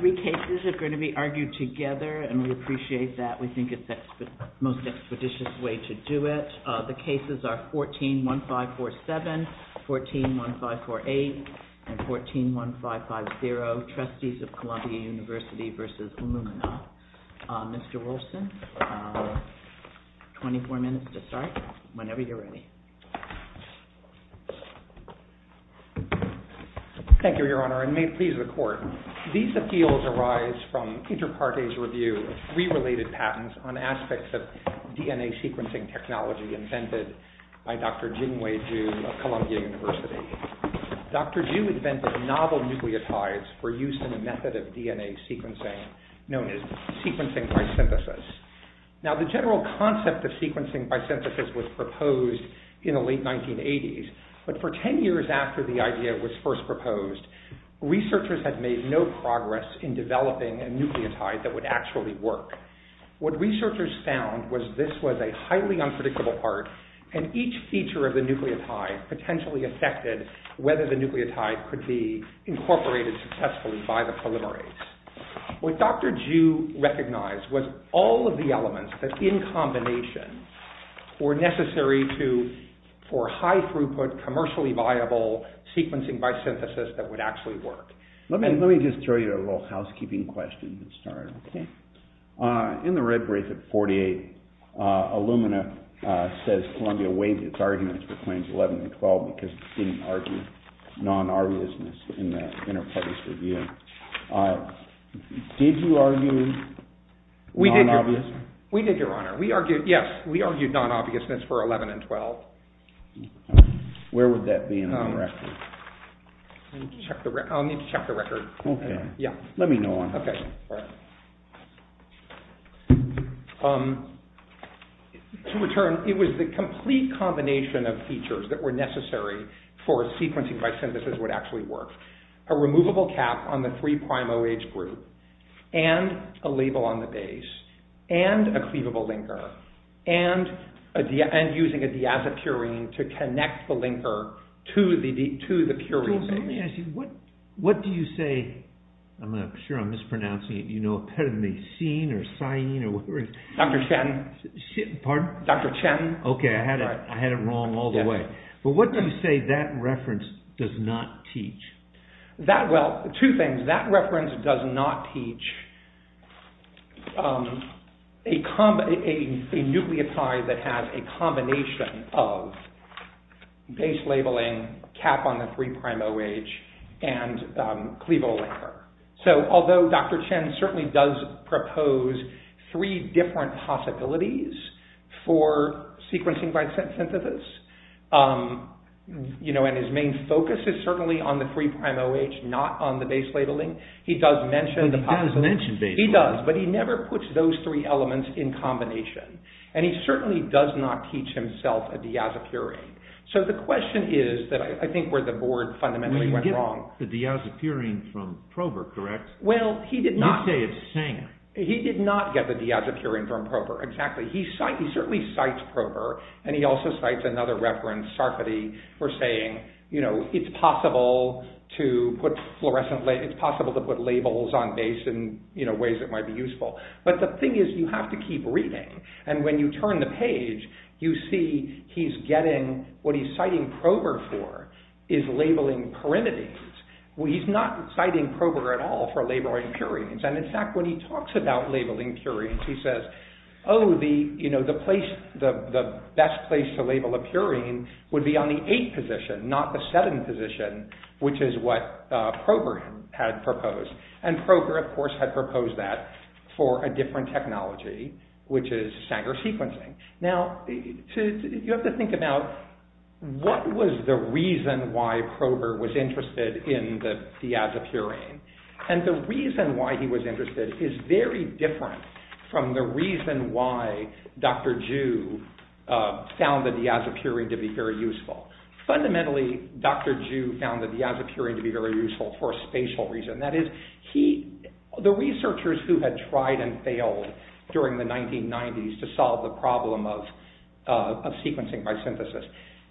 The University of Illumina is a multi-disciplinary university located in Columbia, Illumina, USA. The University of Illumina is a multi-disciplinary university located in Columbia, Illumina, USA. The University of Illumina is a multi-disciplinary university located in Columbia, Illumina, USA. Good morning, please be seated. The first three cases are going to be argued together, and we appreciate that. We think it's the most expeditious way to do it. The cases are 14-1547, 14-1548, and 14-1550, Trustees of Columbia University v. Illumina. Mr. Wilson, 24 minutes to start, whenever you're ready. Thank you, Your Honor, and may it please the Court. These appeals arise from Interparte's review of three related patents on aspects of DNA sequencing technology invented by Dr. Jingwei Zhu of Columbia University. Dr. Zhu invented novel nucleotides for use in a method of DNA sequencing known as sequencing by synthesis. Now, the general concept of sequencing by synthesis was proposed in the late 1980s, but for 10 years after the idea was first proposed, researchers had made no progress in developing a nucleotide that would actually work. What researchers found was this was a highly unpredictable part, and each feature of the nucleotide potentially affected whether the nucleotide could be incorporated successfully by the polymerase. What Dr. Zhu recognized was all of the elements that, in combination, were necessary for high-throughput, commercially viable sequencing by synthesis that would actually work. Let me just throw you a little housekeeping question to start. In the red brief at 48, Illumina says Columbia waived its arguments for claims 11 and 12 because it didn't argue non-obviousness in the Interparte's review. Did you argue non-obviousness? We did, Your Honor. Yes, we argued non-obviousness for 11 and 12. Where would that be in the record? I'll need to check the record. Okay. Let me know when. Okay. To return, it was the complete combination of features that were necessary for sequencing by synthesis would actually work. A removable cap on the 3'OH group, and a label on the base, and a cleavable linker, and using a diazepurine to connect the linker to the purine. Let me ask you, what do you say, I'm sure I'm mispronouncing it, you know, peramecine or cyane or whatever it is? Dr. Chen. Pardon? Dr. Chen. Okay, I had it wrong all the way. But what do you say that reference does not teach? Well, two things. That reference does not teach a nucleotide that has a combination of base labeling, cap on the 3'OH, and cleavable linker. So although Dr. Chen certainly does propose three different possibilities for sequencing by synthesis, you know, and his main focus is certainly on the 3'OH, not on the base labeling, he does mention the possibility. He does mention base labeling. He does, but he never puts those three elements in combination. And he certainly does not teach himself a diazepurine. So the question is that I think where the board fundamentally went wrong. The diazepurine from Prober, correct? Well, he did not. You say it's zinc. He did not get the diazepurine from Prober, exactly. He certainly cites Prober, and he also cites another reference, Sarfati, for saying, you know, it's possible to put fluorescent, it's possible to put labels on base in, you know, ways that might be useful. But the thing is, you have to keep reading. And when you turn the page, you see he's getting, what he's citing Prober for is labeling pyrimidines. He's not citing Prober at all for labeling purines. And in fact, when he talks about labeling purines, he says, oh, you know, the best place to label a purine would be on the 8 position, not the 7 position, which is what Prober had proposed. And Prober, of course, had proposed that for a different technology, which is Sanger sequencing. Now, you have to think about what was the reason why Prober was interested in the diazepurine. And the reason why he was interested is very different from the reason why Dr. Ju found the diazepurine to be very useful. Fundamentally, Dr. Ju found the diazepurine to be very useful for a spatial reason. That is, he, the researchers who had tried and failed during the 1990s to solve the problem of sequencing by synthesis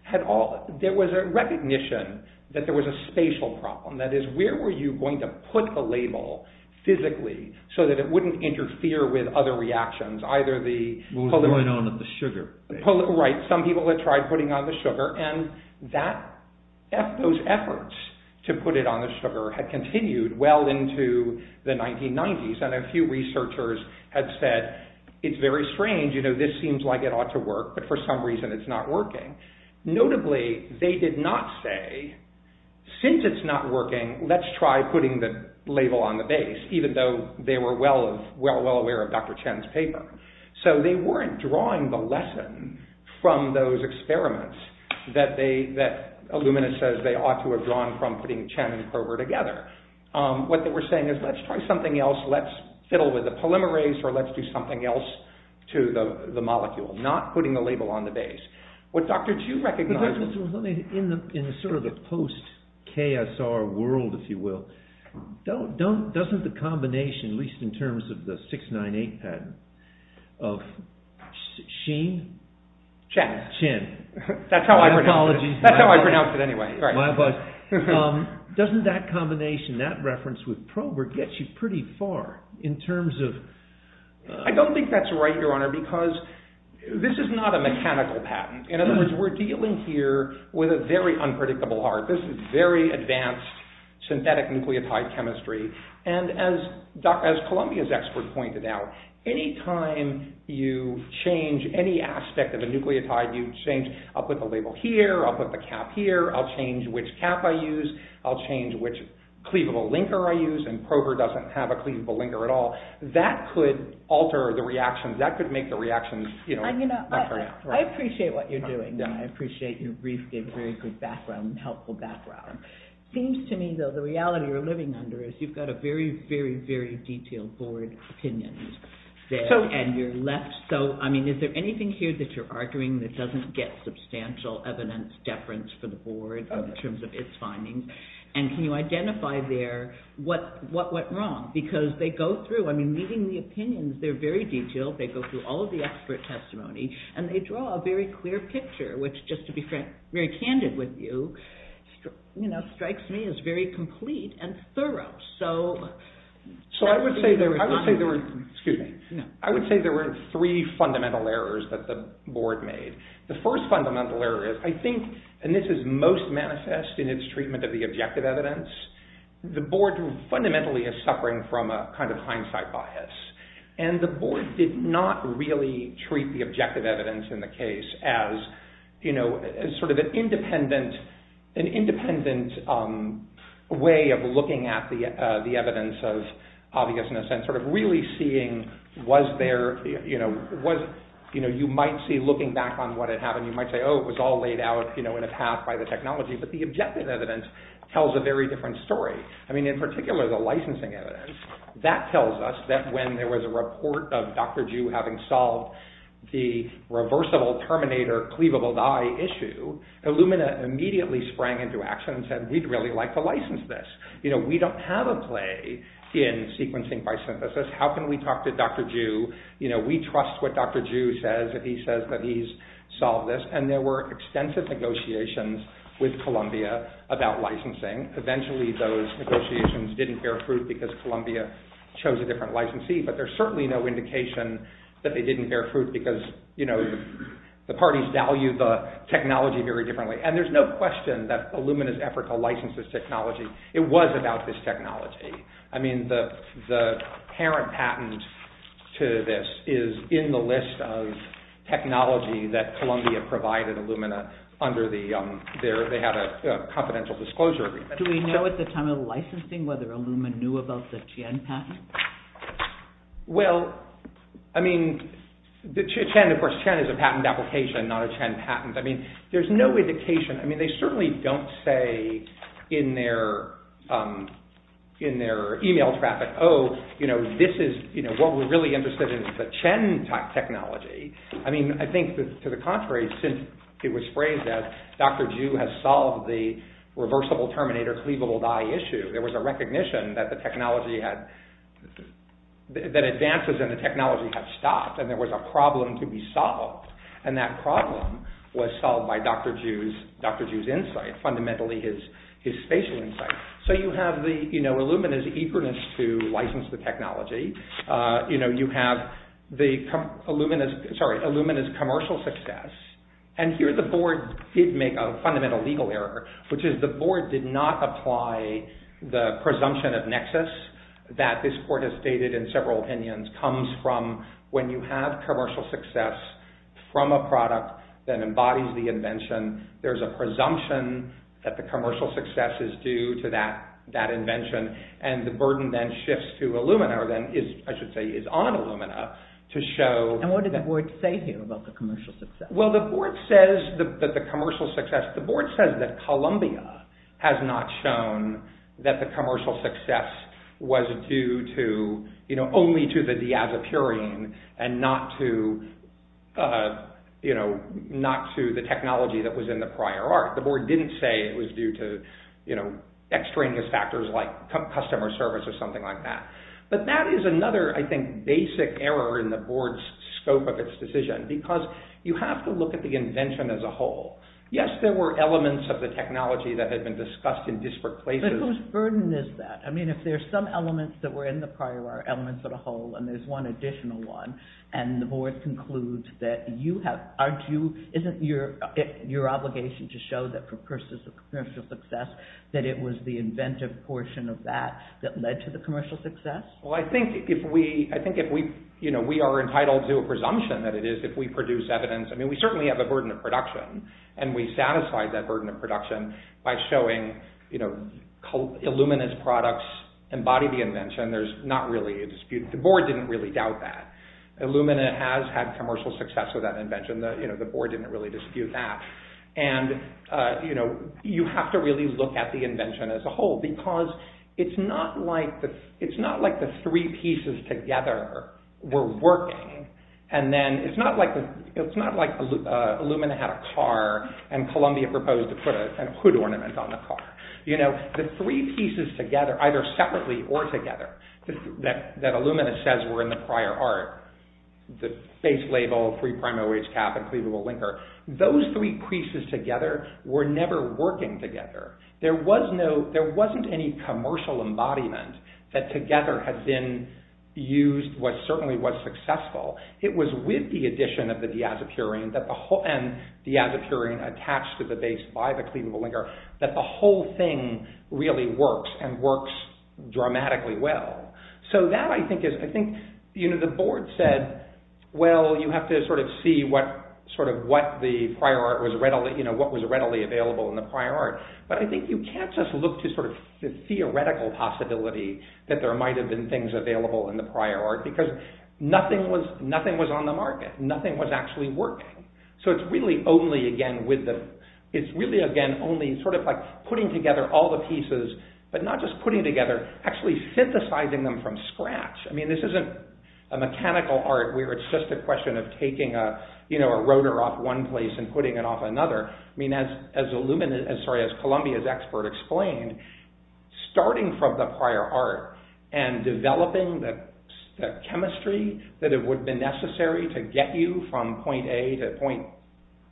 had all, there was a recognition that there was a spatial problem. That is, where were you going to put the label physically so that it wouldn't interfere with other reactions, either the… What was going on with the sugar? Right. Some people had tried putting on the sugar, and that, those efforts to put it on the sugar had continued well into the 1990s. And a few researchers had said, it's very strange, you know, this seems like it ought to work, but for some reason it's not working. Notably, they did not say, since it's not working, let's try putting the label on the base, even though they were well aware of Dr. Chen's paper. So, they weren't drawing the lesson from those experiments that they, that Illuminis says they ought to have drawn from putting Chen and Kroeber together. What they were saying is, let's try something else, let's fiddle with the polymerase, or let's do something else to the molecule, not putting the label on the base. What Dr. Chu recognized… Let me, in sort of the post-KSR world, if you will, doesn't the combination, at least in terms of the 698 patent, of Sheen? Chen. Chen. That's how I pronounced it. My apologies. That's how I pronounced it anyway. Doesn't that combination, that reference with Kroeber, get you pretty far in terms of… I don't think that's right, Your Honor, because this is not a mechanical patent. In other words, we're dealing here with a very unpredictable art. This is very advanced synthetic nucleotide chemistry, and as Columbia's expert pointed out, any time you change any aspect of a nucleotide, you change, I'll put the label here, I'll put the cap here, I'll change which cap I use, I'll change which cleavable linker I use, and Kroeber doesn't have a cleavable linker at all. That could alter the reactions. That could make the reactions… I appreciate what you're doing, and I appreciate your very good background and helpful background. It seems to me, though, the reality you're living under is you've got a very, very, very detailed board opinion there, and you're left so… I mean, is there anything here that you're arguing that doesn't get substantial evidence deference for the board in terms of its findings, and can you identify there what went wrong? Because they go through, I mean, meeting the opinions, they're very detailed, they go through all of the expert testimony, and they draw a very clear picture, which, just to be very candid with you, strikes me as very complete and thorough. So I would say there were three fundamental errors that the board made. The first fundamental error is, I think, and this is most manifest in its treatment of the objective evidence, the board fundamentally is suffering from a kind of hindsight bias, and the board did not really treat the objective evidence in the case as sort of an independent way of looking at the evidence of obviousness and sort of really seeing, you might see looking back on what had happened, you might say, oh, it was all laid out in a path by the technology, but the objective evidence tells a very different story. I mean, in particular, the licensing evidence, that tells us that when there was a report of Dr. Ju having solved the reversible terminator cleavable dye issue, Illumina immediately sprang into action and said, we'd really like to license this. We don't have a play in sequencing by synthesis. How can we talk to Dr. Ju? We trust what Dr. Ju says if he says that he's solved this. And there were extensive negotiations with Columbia about licensing. Eventually, those negotiations didn't bear fruit because Columbia chose a different licensee, but there's certainly no indication that they didn't bear fruit because the parties value the technology very differently. And there's no question that Illumina's effort to license this technology, it was about this technology. I mean, the parent patent to this is in the list of technology that Columbia provided Illumina under their confidential disclosure agreement. Do we know at the time of licensing whether Illumina knew about the Chen patent? Well, I mean, the Chen, of course, Chen is a patent application, not a Chen patent. I mean, there's no indication. I mean, they certainly don't say in their email traffic, oh, this is what we're really interested in, the Chen technology. I mean, I think that to the contrary, since it was phrased that Dr. Ju has solved the reversible terminator cleavable dye issue, there was a recognition that advances in the technology had stopped and there was a problem to be solved. And that problem was solved by Dr. Ju's insight, fundamentally his spatial insight. So you have Illumina's eagerness to license the technology. You have Illumina's commercial success. And here the board did make a fundamental legal error, which is the board did not apply the presumption of nexus that this court has stated in several opinions comes from when you have commercial success from a product that embodies the invention. There's a presumption that the commercial success is due to that invention. And the burden then shifts to Illumina, or then is, I should say, is on Illumina to show. And what did the board say here about the commercial success? Well, the board says that the commercial success, the board says that Columbia has not shown that the commercial success was due to, you know, only to the diazepurine and not to, you know, not to the technology that was in the prior art. The board didn't say it was due to, you know, extraneous factors like customer service or something like that. But that is another, I think, basic error in the board's scope of its decision, because you have to look at the invention as a whole. Yes, there were elements of the technology that had been discussed in disparate places. But whose burden is that? I mean, if there's some elements that were in the prior art, elements of the whole, and there's one additional one and the board concludes that you have, aren't you, isn't your obligation to show that for purposes of commercial success that it was the inventive portion of that that led to the commercial success? Well, I think if we, you know, we are entitled to a presumption that it is if we produce evidence. I mean, we certainly have a burden of production. And we satisfy that burden of production by showing, you know, Illumina's products embody the invention. There's not really a dispute. The board didn't really doubt that. Illumina has had commercial success with that invention. You know, the board didn't really dispute that. And, you know, you have to really look at the invention as a whole, because it's not like the three pieces together were working. And then it's not like Illumina had a car and Columbia proposed to put a hood ornament on the car. You know, the three pieces together, either separately or together, that Illumina says were in the prior art, the base label, free primary wage cap, and cleavable linker, those three pieces together were never working together. There was no, there wasn't any commercial embodiment that together had been used, what certainly was successful. It was with the addition of the diazepurian that the whole, and diazepurian attached to the base by the cleavable linker, that the whole thing really works and works dramatically well. So that I think is, I think, you know, the board said, well, you have to sort of see what, sort of what the prior art was readily, you know, what was readily available in the prior art. But I think you can't just look to sort of the theoretical possibility that there might have been things available in the prior art because nothing was, nothing was on the market, nothing was actually working. So it's really only again with the, it's really again only sort of like putting together all the pieces, but not just putting together, actually synthesizing them from scratch. I mean, this isn't a mechanical art where it's just a question of taking a, you know, a rotor off one place and putting it off another. I mean, as Columbia's expert explained, starting from the prior art and developing the chemistry that it would have been necessary to get you from point A to point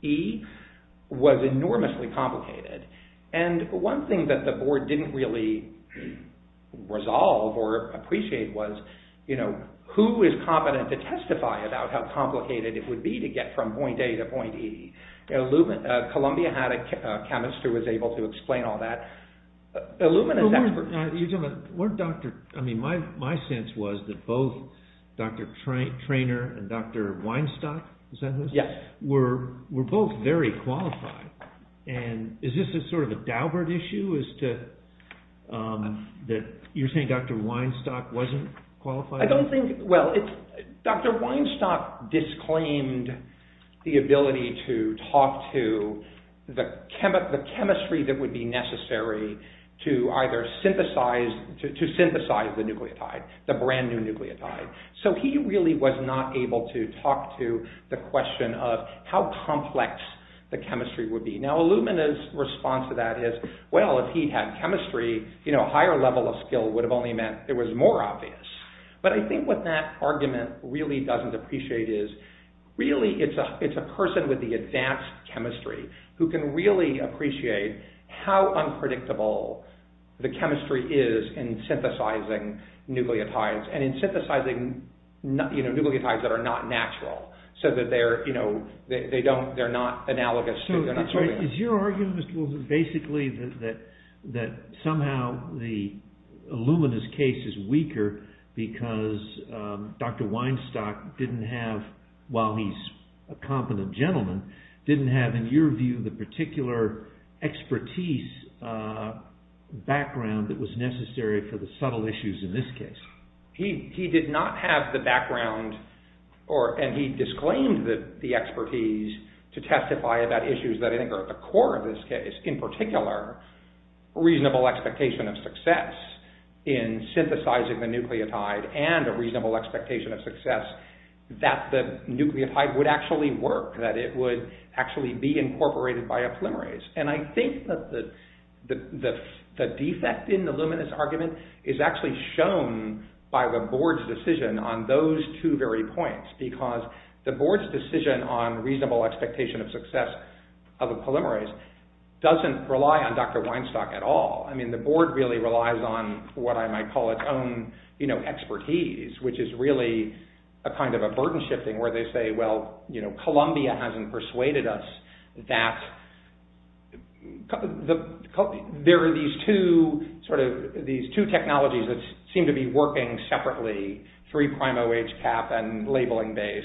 E was enormously complicated. And one thing that the board didn't really resolve or appreciate was, you know, who is competent to testify about how complicated it would be to get from point A to point E? Columbia had a chemist who was able to explain all that. You're talking about, weren't Dr., I mean, my sense was that both Dr. Treynor and Dr. Weinstock, is that who? Yes. Were both very qualified. And is this a sort of a Daubert issue as to, that you're saying Dr. Weinstock wasn't qualified? I don't think, well, Dr. Weinstock disclaimed the ability to talk to the chemistry that would be necessary to either synthesize, to synthesize the nucleotide, the brand new nucleotide. So he really was not able to talk to the question of how complex the chemistry would be. Now Illumina's response to that is, well, if he had chemistry, you know, a higher level of skill would have only meant it was more obvious. But I think what that argument really doesn't appreciate is really it's a person with the advanced chemistry who can really appreciate how unpredictable the chemistry is in synthesizing nucleotides and in synthesizing, you know, nucleotides that are not natural. So that they're, you know, they don't, they're not analogous. So is your argument, Mr. Wilson, basically that somehow the Illumina's case is weaker because Dr. Weinstock didn't have, while he's a competent gentleman, didn't have in your view the particular expertise background that was necessary for the subtle issues in this case? He did not have the background or, and he disclaimed the expertise to testify about issues that I think are at the core of this case. In particular, reasonable expectation of success in synthesizing the nucleotide and a reasonable expectation of success that the nucleotide would actually work, that it would actually be incorporated by a polymerase. And I think that the defect in the Illumina's argument is actually shown by the board's decision on those two very points because the board's decision on reasonable expectation of success of a polymerase doesn't rely on Dr. Weinstock at all. I mean, the board really relies on what I might call its own, you know, expertise, which is really a kind of a burden shifting where they say, well, you know, there are these two sort of, these two technologies that seem to be working separately, 3'OH cap and labeling base.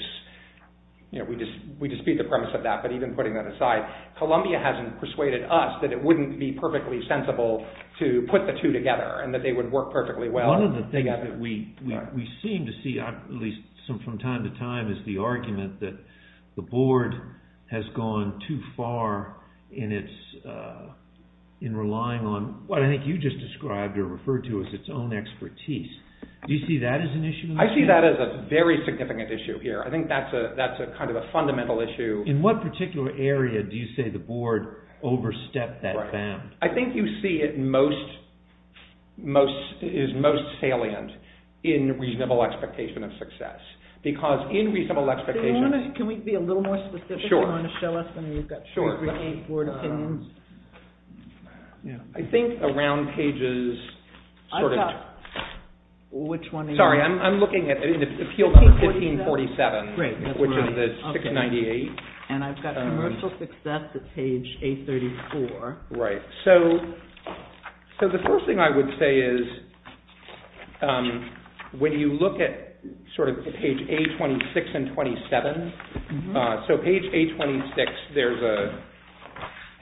You know, we dispute the premise of that, but even putting that aside, Columbia hasn't persuaded us that it wouldn't be perfectly sensible to put the two together and that they would work perfectly well together. One of the things that we seem to see, at least from time to time, is the argument that the board has gone too far in its, in relying on what I think you just described or referred to as its own expertise. Do you see that as an issue? I see that as a very significant issue here. I think that's a, that's a kind of a fundamental issue. In what particular area do you say the board overstepped that bound? I think you see it most, most, is most salient in reasonable expectation of success because in reasonable expectation... Can we be a little more specific? Sure. Do you want to show us? Sure. I mean, we've got three, three, eight board opinions. I think around pages, sort of... I've got, which one are you... Sorry, I'm looking at Appeal 1547, which is the 698. And I've got Commercial Success at page 834. Right. So, so the first thing I would say is when you look at sort of page 826 and 827, so page 826 there's a,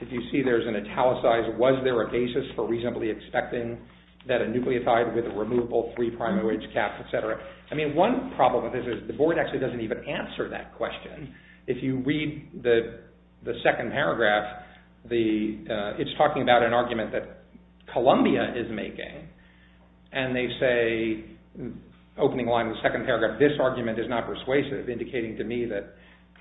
if you see there's an italicized, was there a basis for reasonably expecting that a nucleotide with a removable 3'OH cap, etc. I mean, one problem with this is the board actually doesn't even answer that question. If you read the second paragraph, it's talking about an argument that Columbia is making. And they say, opening line of the second paragraph, this argument is not persuasive, indicating to me that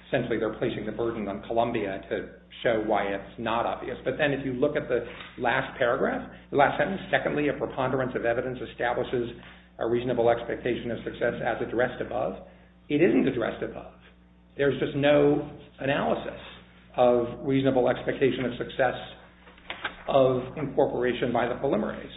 essentially they're placing the burden on Columbia to show why it's not obvious. But then if you look at the last paragraph, the last sentence, secondly, a preponderance of evidence establishes a reasonable expectation of success as addressed above. It isn't addressed above. There's just no analysis of reasonable expectation of success of incorporation by the preliminaries.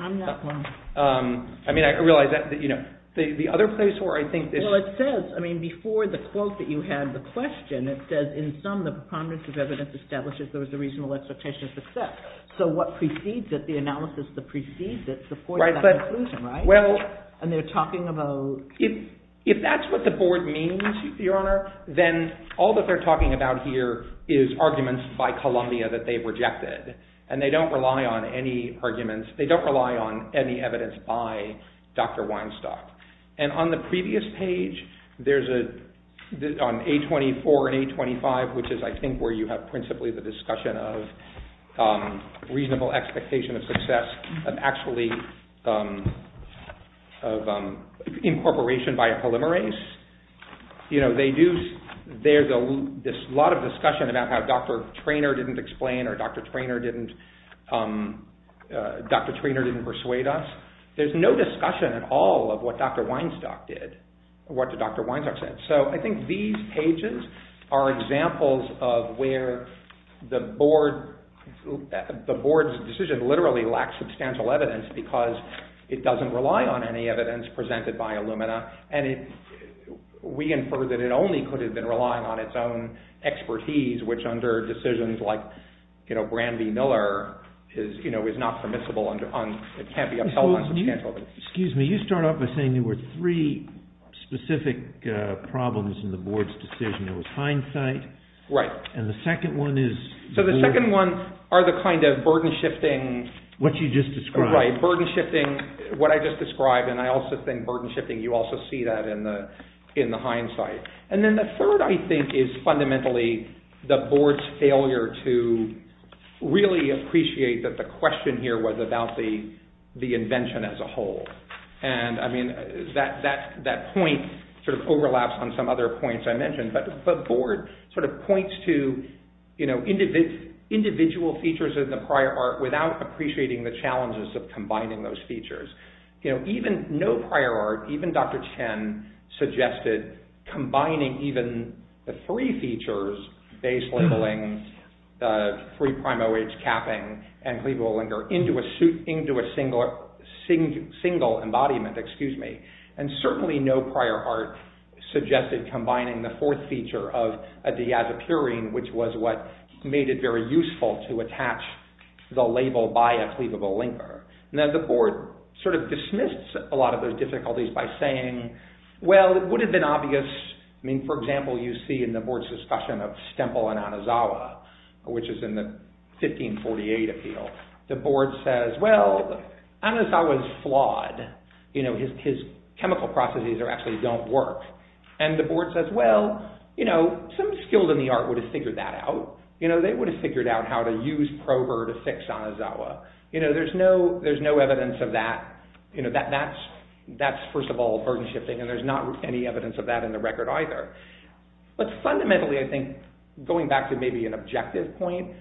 I'm not one. I mean, I realize that, you know, the other place where I think this... Well, it says, I mean, before the quote that you had the question, it says in sum the preponderance of evidence establishes there was a reasonable expectation of success. So what precedes it, the analysis that precedes it supports that conclusion, right? Well... And they're talking about... If that's what the board means, Your Honor, then all that they're talking about here is arguments by Columbia that they've rejected. And they don't rely on any arguments. They don't rely on any evidence by Dr. Weinstock. And on the previous page, there's an A24 and A25, which is, I think, where you have principally the discussion of reasonable expectation of success of actually incorporation by a preliminaries. You know, they do... There's a lot of discussion about how Dr. Treanor didn't explain or Dr. Treanor didn't... Dr. Treanor didn't persuade us. There's no discussion at all of what Dr. Weinstock did, what Dr. Weinstock said. So I think these pages are examples of where the board's decision literally lacks substantial evidence because it doesn't rely on any evidence presented by Illumina. And we infer that it only could have been relying on its own expertise, which under decisions like, you know, Brandy Miller is, you know, is not permissible under... It can't be upheld on substantial evidence. Excuse me. You start off by saying there were three specific problems in the board's decision. It was hindsight. Right. And the second one is... So the second one are the kind of burden shifting... What you just described. Right. Burden shifting, what I just described. And I also think burden shifting, you also see that in the hindsight. And then the third, I think, is fundamentally the board's failure to really appreciate that the question here was about the invention as a whole. And, I mean, that point sort of overlaps on some other points I mentioned. But the board sort of points to, you know, individual features in the prior art without appreciating the challenges of combining those features. You know, even no prior art, even Dr. Chen, suggested combining even the three features, base labeling, 3'OH capping, and cleavable linker into a single embodiment. Excuse me. And certainly no prior art suggested combining the fourth feature of a diazepurine, which was what made it very useful to attach the label by a cleavable linker. And then the board sort of dismisses a lot of those difficulties by saying, well, it would have been obvious. I mean, for example, you see in the board's discussion of Stemple and Anazawa, which is in the 1548 appeal, the board says, well, Anazawa's flawed. You know, his chemical processes actually don't work. And the board says, well, you know, some skilled in the art would have figured that out. You know, they would have figured out how to use Prover to fix Anazawa. You know, there's no evidence of that. You know, that's, first of all, burden shifting. And there's not any evidence of that in the record either. But fundamentally, I think, going back to maybe an objective point,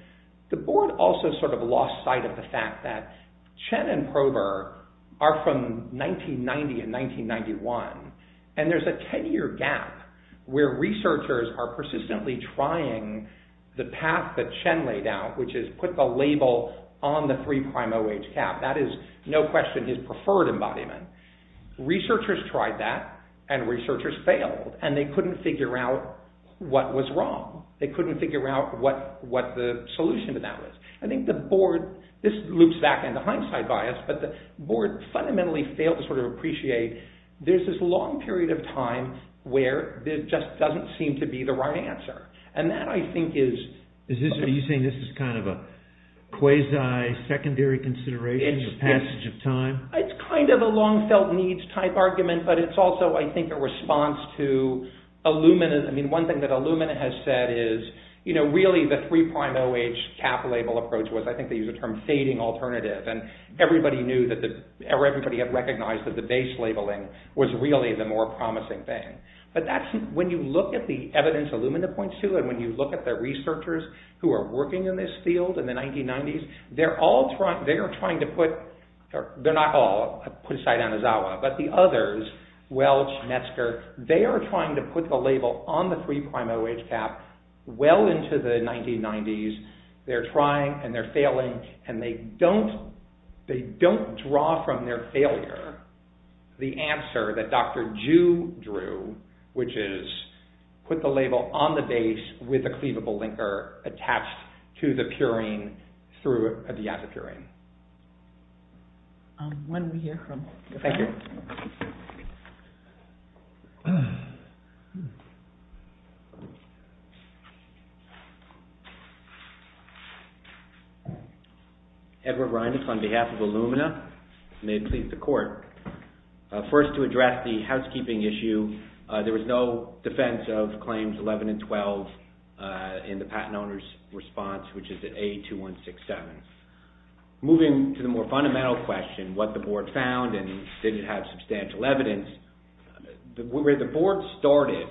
the board also sort of lost sight of the fact that Chen and Prover are from 1990 and 1991, and there's a 10-year gap where researchers are persistently trying the path that Chen laid out, which is put the label on the 3'OH cap. That is no question his preferred embodiment. Researchers tried that, and researchers failed, and they couldn't figure out what was wrong. They couldn't figure out what the solution to that was. I think the board, this loops back into hindsight bias, but the board fundamentally failed to sort of appreciate there's this long period of time where there just doesn't seem to be the right answer. And that, I think, is... Are you saying this is kind of a quasi-secondary consideration, a passage of time? It's kind of a long-felt-needs type argument, but it's also, I think, a response to Illumina. I mean, one thing that Illumina has said is, you know, really the 3'OH cap label approach was, I think they use the term, fading alternative. And everybody knew that the... Everybody had recognized that the base labeling was really the more promising thing. But that's... When you look at the evidence Illumina points to, and when you look at the researchers who are working in this field in the 1990s, they're all trying... They are trying to put... They're not all, put aside Anuzawa, but the others, Welch, Metzger, they are trying to put the label on the 3'OH cap well into the 1990s. They're trying, and they're failing, and they don't draw from their failure the answer that Dr. Ju drew, which is put the label on the base with a cleavable linker attached to the purine through the acid purine. When we hear from... Thank you. Edward Reines on behalf of Illumina. May it please the court. First, to address the housekeeping issue, there was no defense of claims 11 and 12 in the patent owner's response, which is at A2167. Moving to the more fundamental question, what the board found and did it have substantial evidence, where the board started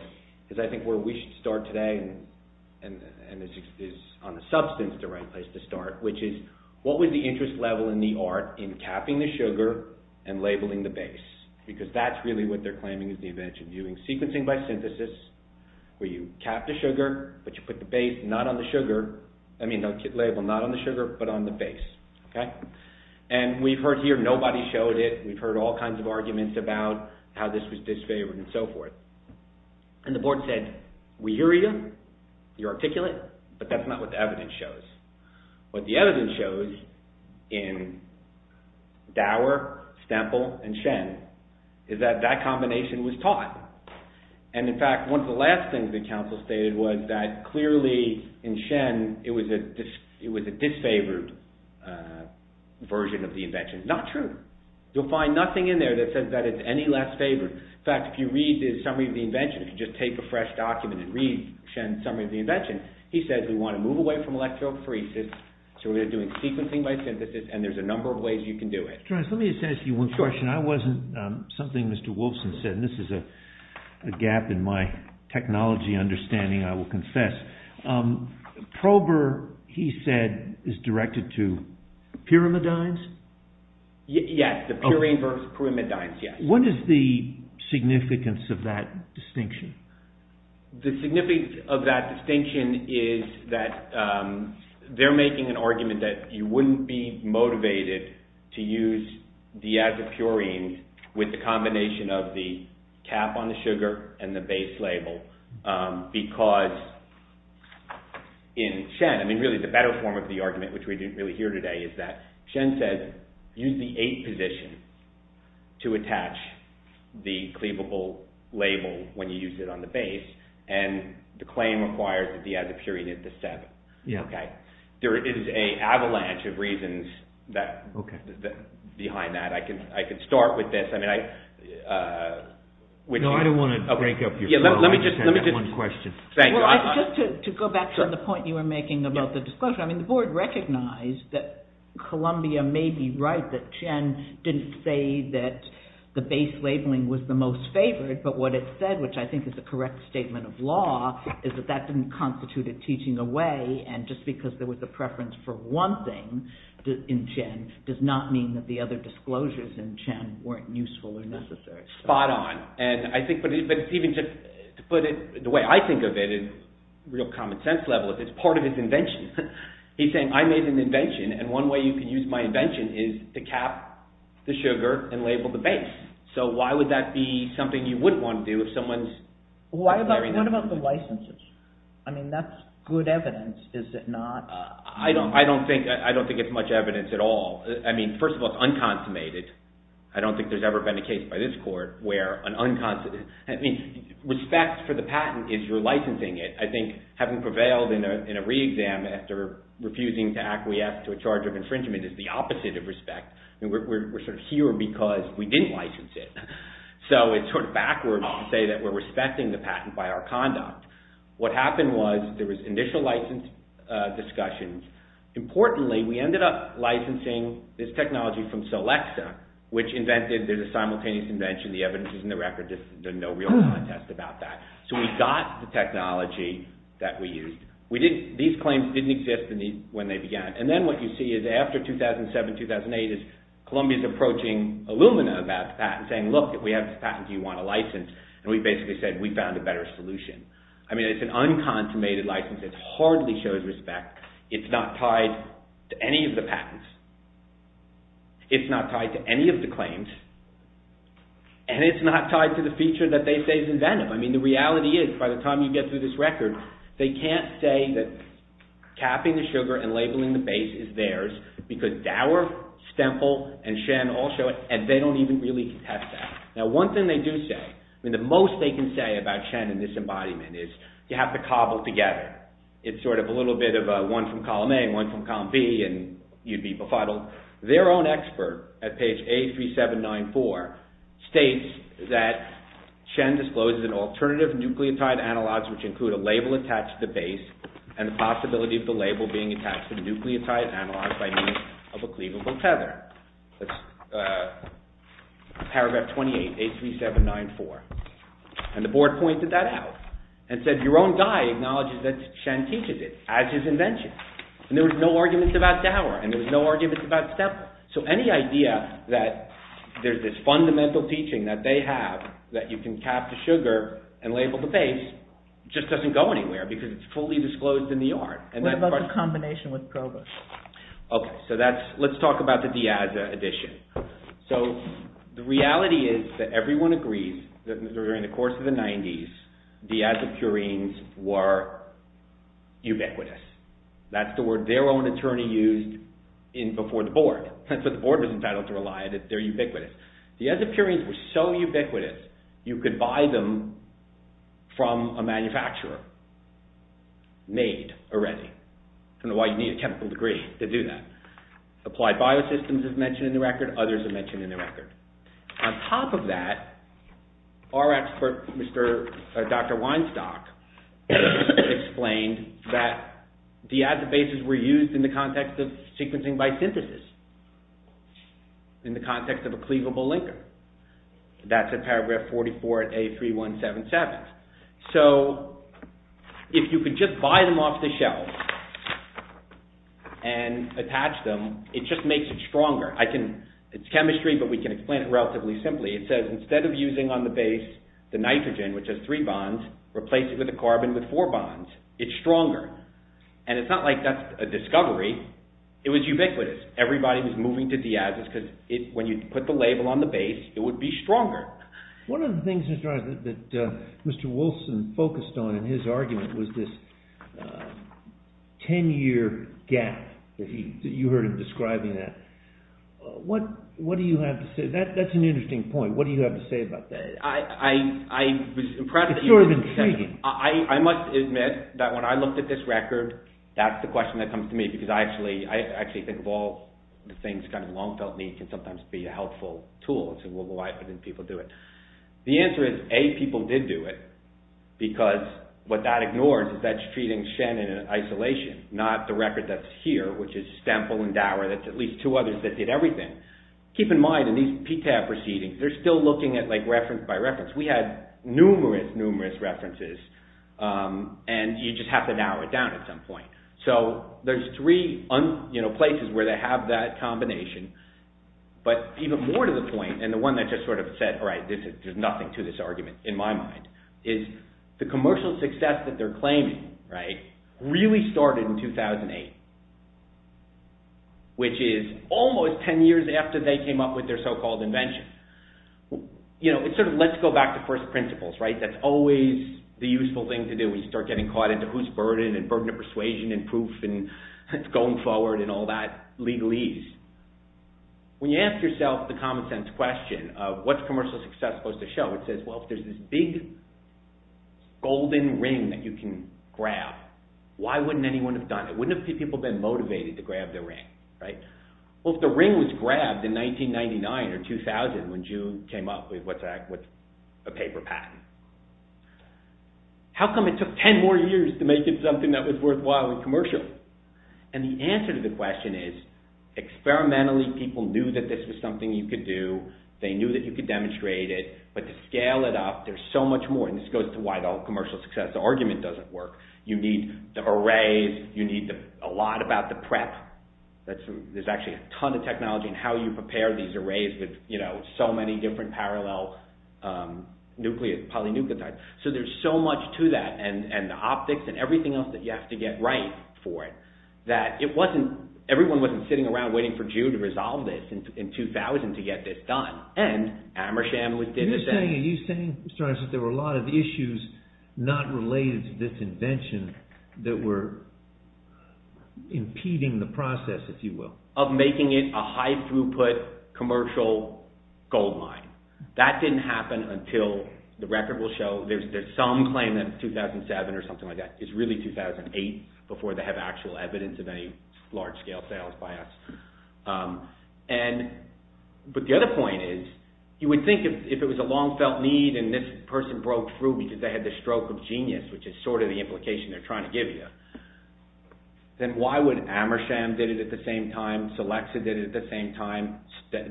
is I think where we should start today, and this is on the substance the right place to start, which is what was the interest level in the art in capping the sugar and labeling the base? Because that's really what they're claiming is the advantage of doing sequencing by synthesis where you cap the sugar, but you put the base not on the sugar, I mean the label not on the sugar, but on the base. And we've heard here nobody showed it, we've heard all kinds of arguments about how this was disfavored and so forth. And the board said, we hear you, you articulate, but that's not what the evidence shows. What the evidence shows in Dower, Stemple, and Shen is that that combination was taught. And in fact, one of the last things the council stated was that clearly in Shen it was a disfavored version of the invention. Not true. You'll find nothing in there that says that it's any less favored. In fact, if you read the summary of the invention, he says we want to move away from electrophoresis, so we're going to do it sequencing by synthesis, and there's a number of ways you can do it. Let me just ask you one question. I wasn't, something Mr. Wolfson said, and this is a gap in my technology understanding, I will confess. Prober, he said, is directed to pyrimidines? Yes, the purine versus pyrimidines, yes. What is the significance of that distinction? The significance of that distinction is that they're making an argument that you wouldn't be motivated to use diazepurine with the combination of the cap on the sugar and the base label because in Shen, I mean really the better form of the argument, which we didn't really hear today, is that Shen says use the 8 position to attach the cleavable label when you use it on the base, and the claim requires the diazepurine at the 7. There is an avalanche of reasons behind that. I can start with this. No, I don't want to break up your flow. I understand that one question. Just to go back to the point you were making about the discussion, I mean the board recognized that Columbia may be right that Shen didn't say that the base labeling was the most favored, but what it said, which I think is a correct statement of law, is that that didn't constitute a teaching away, and just because there was a preference for one thing in Shen does not mean that the other disclosures in Shen weren't useful or necessary. Spot on. But even to put it the way I think of it, at a real common sense level, it's part of his invention. He's saying, I made an invention, and one way you can use my invention is to cap the sugar and label the base. So why would that be something you wouldn't want to do if someone's declaring that? What about the licenses? I mean, that's good evidence, is it not? I don't think it's much evidence at all. I mean, first of all, it's unconsummated. I don't think there's ever been a case by this court where an unconsummated... I mean, respect for the patent is your licensing it. I think having prevailed in a re-exam after refusing to acquiesce to a charge of infringement is the opposite of respect. We're sort of here because we didn't license it. So it's sort of backwards to say that we're respecting the patent by our conduct. What happened was there was initial license discussions. Importantly, we ended up licensing this technology from Solexa, which invented, there's a simultaneous invention, the evidence is in the record. There's no real contest about that. So we got the technology that we used. These claims didn't exist when they began. And then what you see is after 2007, 2008, is Columbia's approaching Illumina about the patent, saying, look, if we have this patent, do you want a license? And we basically said, we found a better solution. I mean, it's an unconsummated license. It hardly shows respect. It's not tied to any of the patents. It's not tied to any of the claims. And it's not tied to the feature that they say is inventive. I mean, the reality is, by the time you get through this record, they can't say that capping the sugar and labeling the base is theirs because Dower, Stemple, and Shen all show it, and they don't even really contest that. Now, one thing they do say, I mean, the most they can say about Shen and this embodiment is you have to cobble together. It's sort of a little bit of one from column A and one from column B, and you'd be befuddled. Their own expert at page 83794 states that Shen discloses an alternative nucleotide analog which includes a label attached to the base and the possibility of the label being attached to the nucleotide analog by means of a cleavable tether. That's paragraph 28, 83794. And the board pointed that out and said, your own guy acknowledges that Shen teaches it as his invention. And there was no argument about Dower, and there was no argument about Stemple. So any idea that there's this fundamental teaching that they have that you can cap the sugar and label the base just doesn't go anywhere because it's fully disclosed in the art. What about the combination with Provo? Okay, so let's talk about the Diaz edition. So the reality is that everyone agrees that during the course of the 90s, Diaz and Purines were ubiquitous. That's the word their own attorney used before the board. That's what the board was entitled to rely on, that they're ubiquitous. Diaz and Purines were so ubiquitous, you could buy them from a manufacturer made already. I don't know why you need a chemical degree to do that. Applied biosystems is mentioned in the record. Others are mentioned in the record. On top of that, our expert, Dr. Weinstock, explained that Diaz bases were used in the context of sequencing by synthesis, in the context of a cleavable linker. That's at paragraph 44 at A3177. So if you could just buy them off the shelf and attach them, it just makes it stronger. It's chemistry, but we can explain it relatively simply. It says instead of using on the base the nitrogen, which has three bonds, replace it with a carbon with four bonds. It's stronger. And it's not like that's a discovery. It was ubiquitous. Everybody was moving to Diaz's because when you put the label on the base, it would be stronger. One of the things that Mr. Wilson focused on in his argument was this 10-year gap that you heard him describing that. What do you have to say? That's an interesting point. What do you have to say about that? It's sort of intriguing. I must admit that when I looked at this record, that's the question that comes to me because I actually think of all the things kind of long-felt need can sometimes be a helpful tool. Why didn't people do it? The answer is A, people did do it because what that ignores is that's treating Shannon in isolation, not the record that's here, which is Stemple and Dower. That's at least two others that did everything. Keep in mind, in these PTAP proceedings, they're still looking at reference by reference. We had numerous, numerous references and you just have to narrow it down at some point. There's three places where they have that combination, but even more to the point, and the one that just sort of said, all right, there's nothing to this argument in my mind, is the commercial success that they're claiming really started in 2008, which is almost 10 years after they came up with their so-called invention. It sort of lets go back to first principles, right? That's always the useful thing to do when you start getting caught into who's burden and burden of persuasion and proof and going forward and all that legalese. When you ask yourself the common sense question of what's commercial success supposed to show, it says, well, if there's this big golden ring that you can grab, why wouldn't anyone have done it? Wouldn't a few people have been motivated to grab their ring, right? Well, if the ring was grabbed in 1999 or 2000 when June came up with a paper patent, how come it took 10 more years to make it something that was worthwhile and commercial? And the answer to the question is, experimentally, people knew that this was something you could do. They knew that you could demonstrate it, but to scale it up, there's so much more, and this goes to why the whole commercial success argument doesn't work. You need the arrays. You need a lot about the prep. There's actually a ton of technology in how you prepare these arrays with so many different parallel polynucleotides, so there's so much to that and the optics and everything else that you have to get right for it that it wasn't, everyone wasn't sitting around waiting for June to resolve this in 2000 to get this done, and Amersham did the same. Are you saying, Mr. Aronson, that there were a lot of issues not related to this invention that were impeding the process, if you will? Of making it a high-throughput commercial goldmine. That didn't happen until, the record will show, there's some claim that it's 2007 or something like that. It's really 2008 before they have actual evidence of any large-scale sales by us. But the other point is, you would think if it was a long-felt need and this person broke through because they had the stroke of genius, which is sort of the implication they're trying to give you, then why would Amersham did it at the same time, Selexa did it at the same time,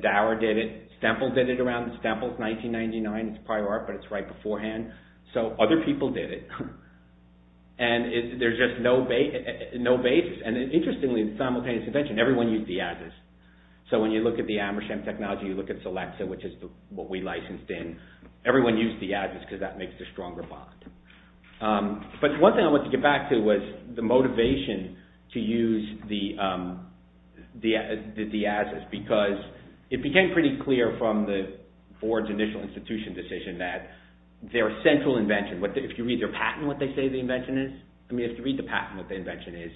Dower did it, Stemple did it around, Stemple's 1999, it's prior art, but it's right beforehand, so other people did it, and there's just no basis, and interestingly, the simultaneous invention, everyone used the Agis, so when you look at the Amersham technology, you look at Selexa, which is what we licensed in, everyone used the Agis because that makes the stronger bond. But one thing I want to get back to was the motivation to use the Agis because it became pretty clear from the board's initial institution decision that their central invention, if you read their patent, what they say the invention is, I mean, if you read the patent, what the invention is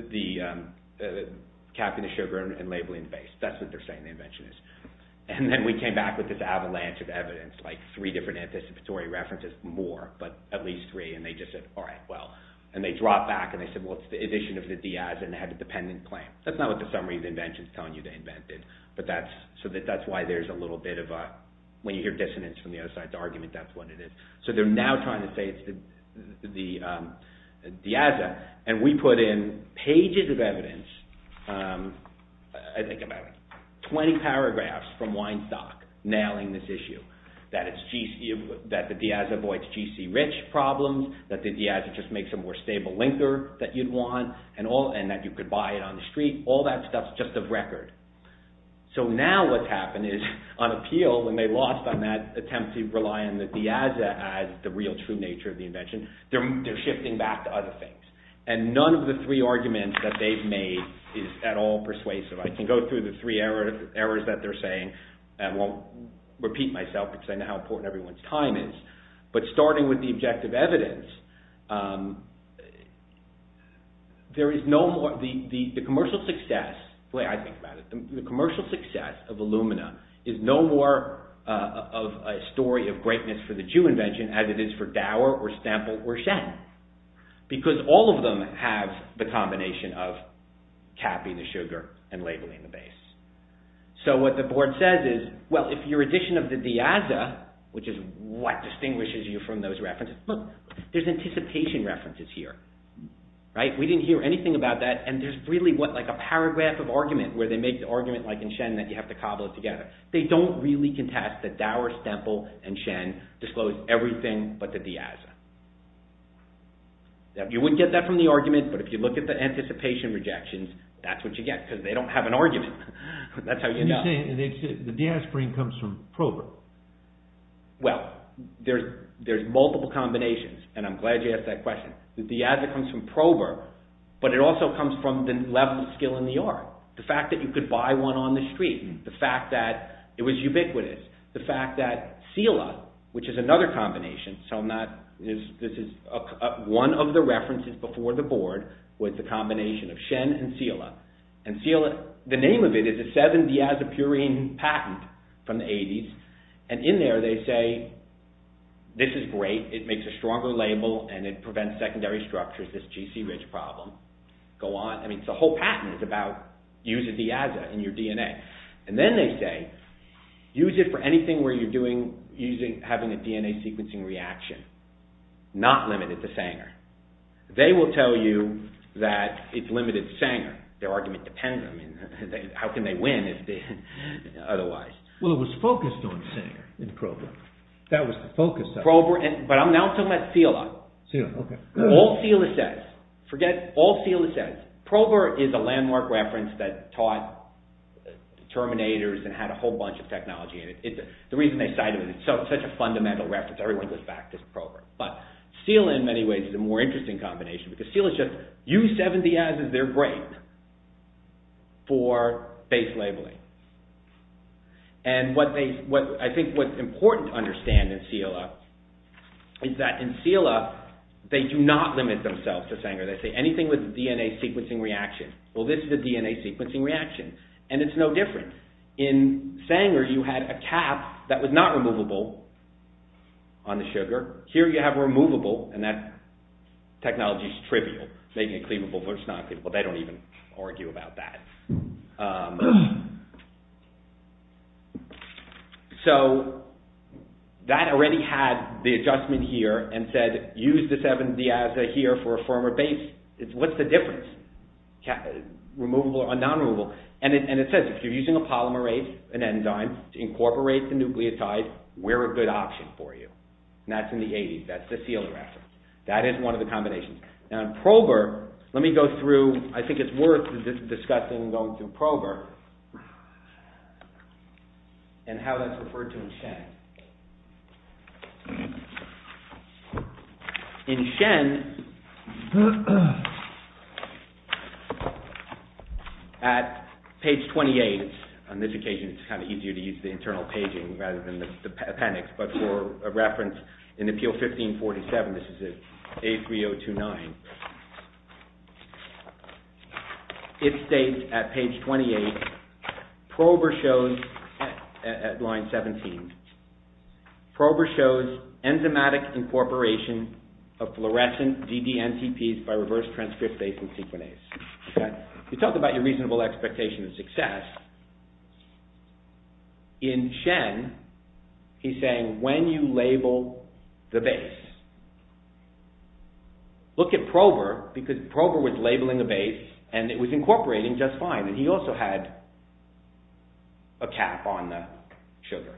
is the capping the sugar and labeling the base. That's what they're saying the invention is. And then we came back with this avalanche of evidence like three different anticipatory references, more, but at least three, and they just said, all right, well. And they dropped back and they said, well, it's the edition of the Diaz, and they had a dependent claim. That's not what the summary of the invention is telling you they invented, but that's why there's a little bit of a, when you hear dissonance from the other side's argument, that's what it is. So they're now trying to say it's the Diaz, and we put in pages of evidence, I think about 20 paragraphs from Weinstock nailing this issue, that the Diaz avoids GC rich problems, that the Diaz just makes a more stable linker that you'd want, and that you could buy it on the street. All that stuff's just of record. So now what's happened is, on appeal, when they lost on that attempt to rely on the Diaz as the real true nature of the invention, they're shifting back to other things. And none of the three arguments that they've made is at all persuasive. I can go through the three errors that they're saying and won't repeat myself, because I know how important everyone's time is. But starting with the objective evidence, there is no more, the commercial success, the way I think about it, the commercial success of Illumina is no more of a story of greatness for the Jew invention as it is for Dower or Stample or Shen. Because all of them have the combination of capping the sugar and labeling the base. So what the board says is, well, if your addition of the Diaz, which is what distinguishes you from those references, look, there's anticipation references here. We didn't hear anything about that, and there's really what, like a paragraph of argument where they make the argument like in Shen that you have to cobble it together. They don't really contest that Dower, Stample, and Shen disclose everything but the Diaz. You wouldn't get that from the argument, but if you look at the anticipation rejections, that's what you get, because they don't have an argument. That's how you know. The Diaz frame comes from Prober. Well, there's multiple combinations, and I'm glad you asked that question. The Diaz comes from Prober, but it also comes from the level of skill in the art. The fact that you could buy one on the street, the fact that it was ubiquitous, the fact that Silla, which is another combination, so I'm not, this is one of the references before the board with the combination of Shen and Silla, and Silla, the name of it is a 7-Diazopurine patent from the 80s, and in there they say, this is great, it makes a stronger label, and it prevents secondary structures, this GC-rich problem. Go on. I mean, the whole patent is about using Diaz in your DNA. And then they say, use it for anything where you're doing, having a DNA sequencing reaction. Not limited to Sanger. They will tell you that it's limited to Sanger. Their argument depends on it. How can they win otherwise? Well, it was focused on Sanger in Prober. That was the focus of it. Prober, but I'm now talking about Silla. Silla, okay. All Silla says, forget all Silla says, Prober is a landmark reference that taught terminators and had a whole bunch of technology in it. The reason they cited it, it's such a fundamental reference, everyone goes back to Prober. But Silla in many ways is a more interesting combination because Silla's just, use 7 Diaz as their grape for base labeling. And what they, I think what's important to understand in Silla is that in Silla, they do not limit themselves to Sanger. They say anything with DNA sequencing reaction. Well, this is a DNA sequencing reaction. And it's no different. In Sanger, you had a cap that was not removable on the sugar. Here you have a removable, and that technology's trivial, making it cleavable versus non-cleavable. They don't even argue about that. So, that already had the adjustment here and said, use the 7 Diaz here for a firmer base. What's the difference? Removable or non-removable? And it says, if you're using a polymerase, an enzyme, to incorporate the nucleotide, we're a good option for you. And that's in the 80s. That's the Silla reference. That is one of the combinations. Now, in Prober, let me go through, I think it's worth discussing going through Prober, and how that's referred to in Shen. In Shen, at page 28, on this occasion, it's kind of easier to use the internal paging rather than the appendix, but for reference, in Appeal 1547, this is A3029, it states, at page 28, Prober shows, at line 17, Prober shows enzymatic incorporation of fluorescent DDNTPs by reverse transcriptase and sequenase. You talk about your reasonable expectation of success. In Shen, he's saying, when you label the base, look at Prober, because Prober was labeling the base and it was incorporating just fine. And he also had a cap on the sugar.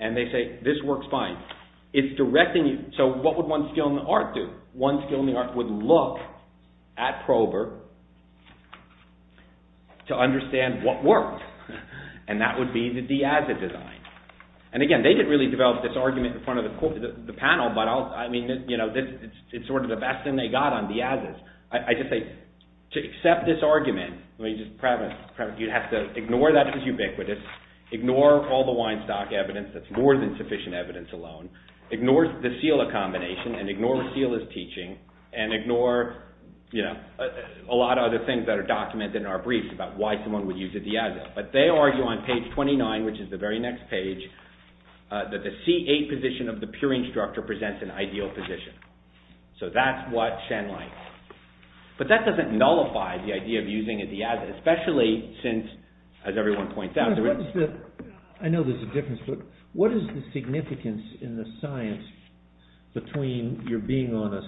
And they say, this works fine. It's directing you, so what would one skill in the art do? One skill in the art would look at Prober to understand what worked. And that would be the Diazid design. And again, they didn't really develop this argument in front of the panel, but I mean, you know, it's sort of the best thing they got on Diazid. I just think, to accept this argument, you'd have to ignore that it's ubiquitous, ignore all the Weinstock evidence that's more than sufficient evidence alone, ignore the SILA combination, and ignore what SILA's teaching, and ignore, you know, a lot of other things that are documented in our briefs about why someone would use a Diazid. But they argue on page 29, which is the very next page, that the C8 position of the purine structure presents an ideal position. So that's what Shen likes. But that doesn't nullify the idea of using a Diazid, especially since, as everyone points out, there is... I know there's a difference, but what is the significance in the science between your being on a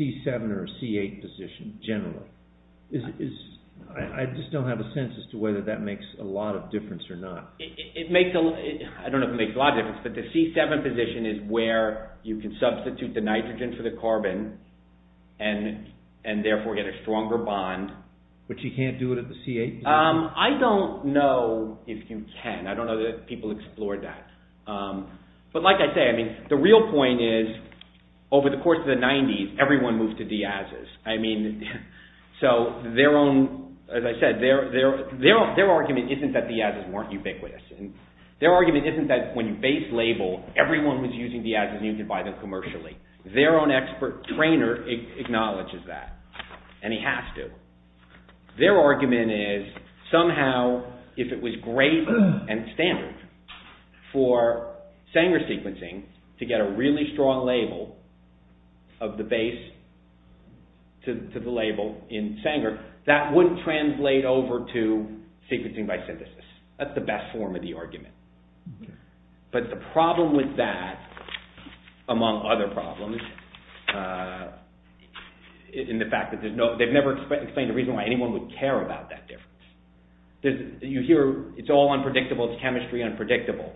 C7 or a C8 position, generally? I just don't have a sense as to whether that makes a lot of difference or not. I don't know if it makes a lot of difference, but the C7 position is where you can substitute the nitrogen for the carbon, and therefore get a stronger bond. But you can't do it at the C8 position? I don't know if you can. I don't know that people explored that. But like I say, the real point is, over the course of the 90s, everyone moved to Diazids. So their own, as I said, their argument isn't that Diazids weren't ubiquitous. Their argument isn't that when you base label, everyone was using Diazids and you can buy them commercially. Their own expert trainer acknowledges that, and he has to. Their argument is, somehow, if it was great and standard for Sanger sequencing to get a really strong label of the base that wouldn't translate over to sequencing by synthesis. That's the best form of the argument. But the problem with that, among other problems, in the fact that they've never explained the reason why anyone would care about that difference. You hear, it's all unpredictable, it's chemistry unpredictable.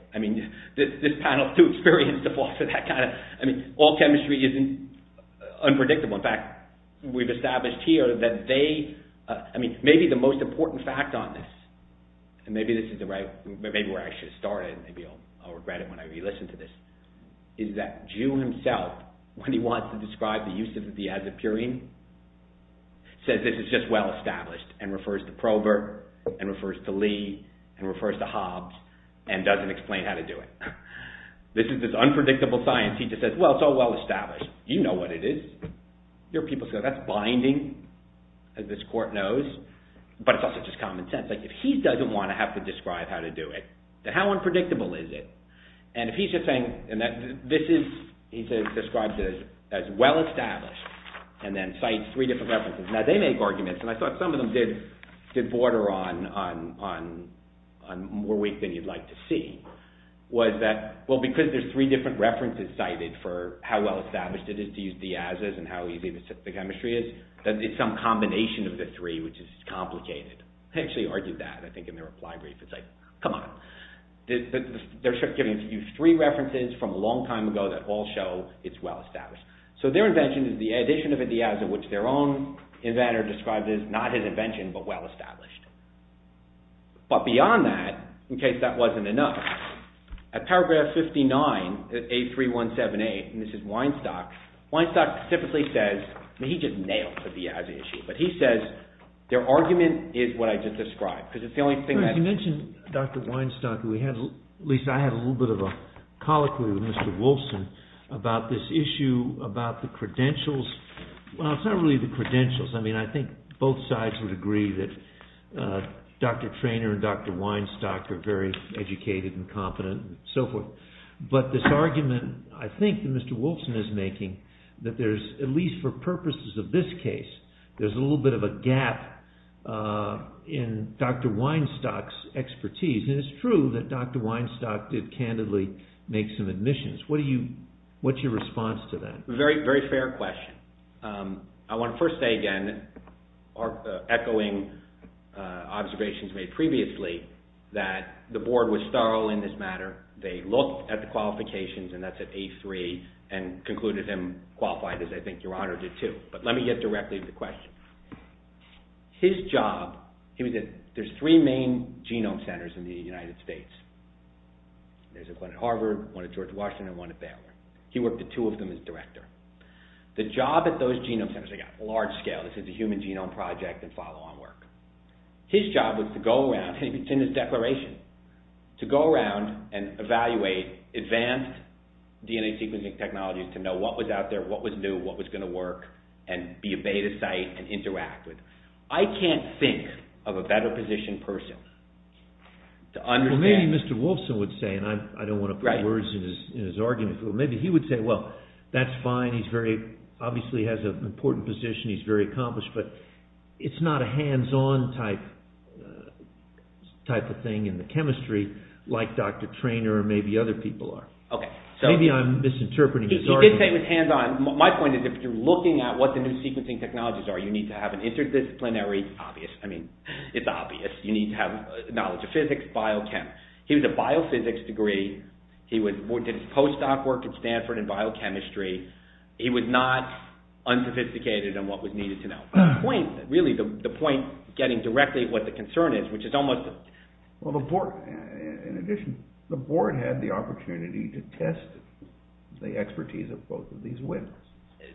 This panel is too experienced to fall for that kind of, all chemistry isn't unpredictable. In fact, we've established here that they, maybe the most important fact on this, and maybe this is the right, maybe where I should start it and maybe I'll regret it when I re-listen to this, is that June himself, when he wants to describe the use of the Diazid purine, says this is just well established and refers to Probert and refers to Lee and refers to Hobbes and doesn't explain how to do it. This is this unpredictable science. He just says, well, it's all well established. You know what it is. You hear people say, that's binding, as this court knows, but it's also just common sense. If he doesn't want to have to describe how to do it, then how unpredictable is it? And if he's just saying, and this is, he says, described as well established and then cites three different references. Now, they make arguments and I thought some of them did border on more weak than you'd like to see, was that, well, because there's three different references cited for how well established it is to use Diazids and how easy the chemistry is, that it's some combination of the three, which is complicated. He actually argued that, I think in the reply brief, it's like, come on. They're giving you three references from a long time ago that all show it's well established. So their invention is the addition of a Diazid which their own inventor describes as not his invention but well established. But beyond that, in case that wasn't enough, at paragraph 59 at A3178, and this is Weinstock, Weinstock typically says, he just nails the Diazid issue, but he says, their argument is what I just described because it's the only thing that... You mentioned Dr. Weinstock who we had, at least I had a little bit of a colloquy with Mr. Wolfson about this issue about the credentials. Well, it's not really the credentials. I mean, I think both sides would agree that Dr. Treanor and Dr. Weinstock are very educated and competent and so forth. But this argument, I think, that Mr. Wolfson is making that there's, at least for purposes of this case, there's a little bit of a gap in Dr. Weinstock's expertise. And it's true that Dr. Weinstock did candidly make some admissions. What do you... What's your response to that? Very fair question. I want to first say again, echoing observations made previously, that the board was thorough in this matter. They looked at the qualifications and that's at A3 and concluded him qualified as I think Your Honor did too. But let me get directly to the question. His job, he was at, there's three main genome centers in the United States. There's one at Harvard, one at George Washington, and one at Baylor. He worked at two of them as director. The job at those genome centers, they got large scale. This is a human genome project and follow on work. His job was to go around, and it's in his declaration, to go around and evaluate advanced DNA sequencing technologies to know what was out there, what was new, what was going to work, and be a beta site and interact with. I can't think of a better positioned person to understand. Well maybe Mr. Wolfson would say, and I don't want to put words in his argument, but maybe he would say, well that's fine, he's very, obviously he has an important position, he's very accomplished, but it's not a hands-on type type of thing in the chemistry like Dr. Treanor or maybe other people are. Maybe I'm misinterpreting his argument. He did say it was hands-on. My point is if you're looking at what the new sequencing technologies are, you need to have an interdisciplinary, obvious, I mean it's obvious, you need to have knowledge of physics, biochem. He had a biophysics degree, he did his post-doc work at Stanford in biochemistry, he was not unsophisticated in what was needed to know. The point, really the point getting directly what the concern is, which is almost... Well the board, in addition, the board had the opportunity to test the expertise of both of these women.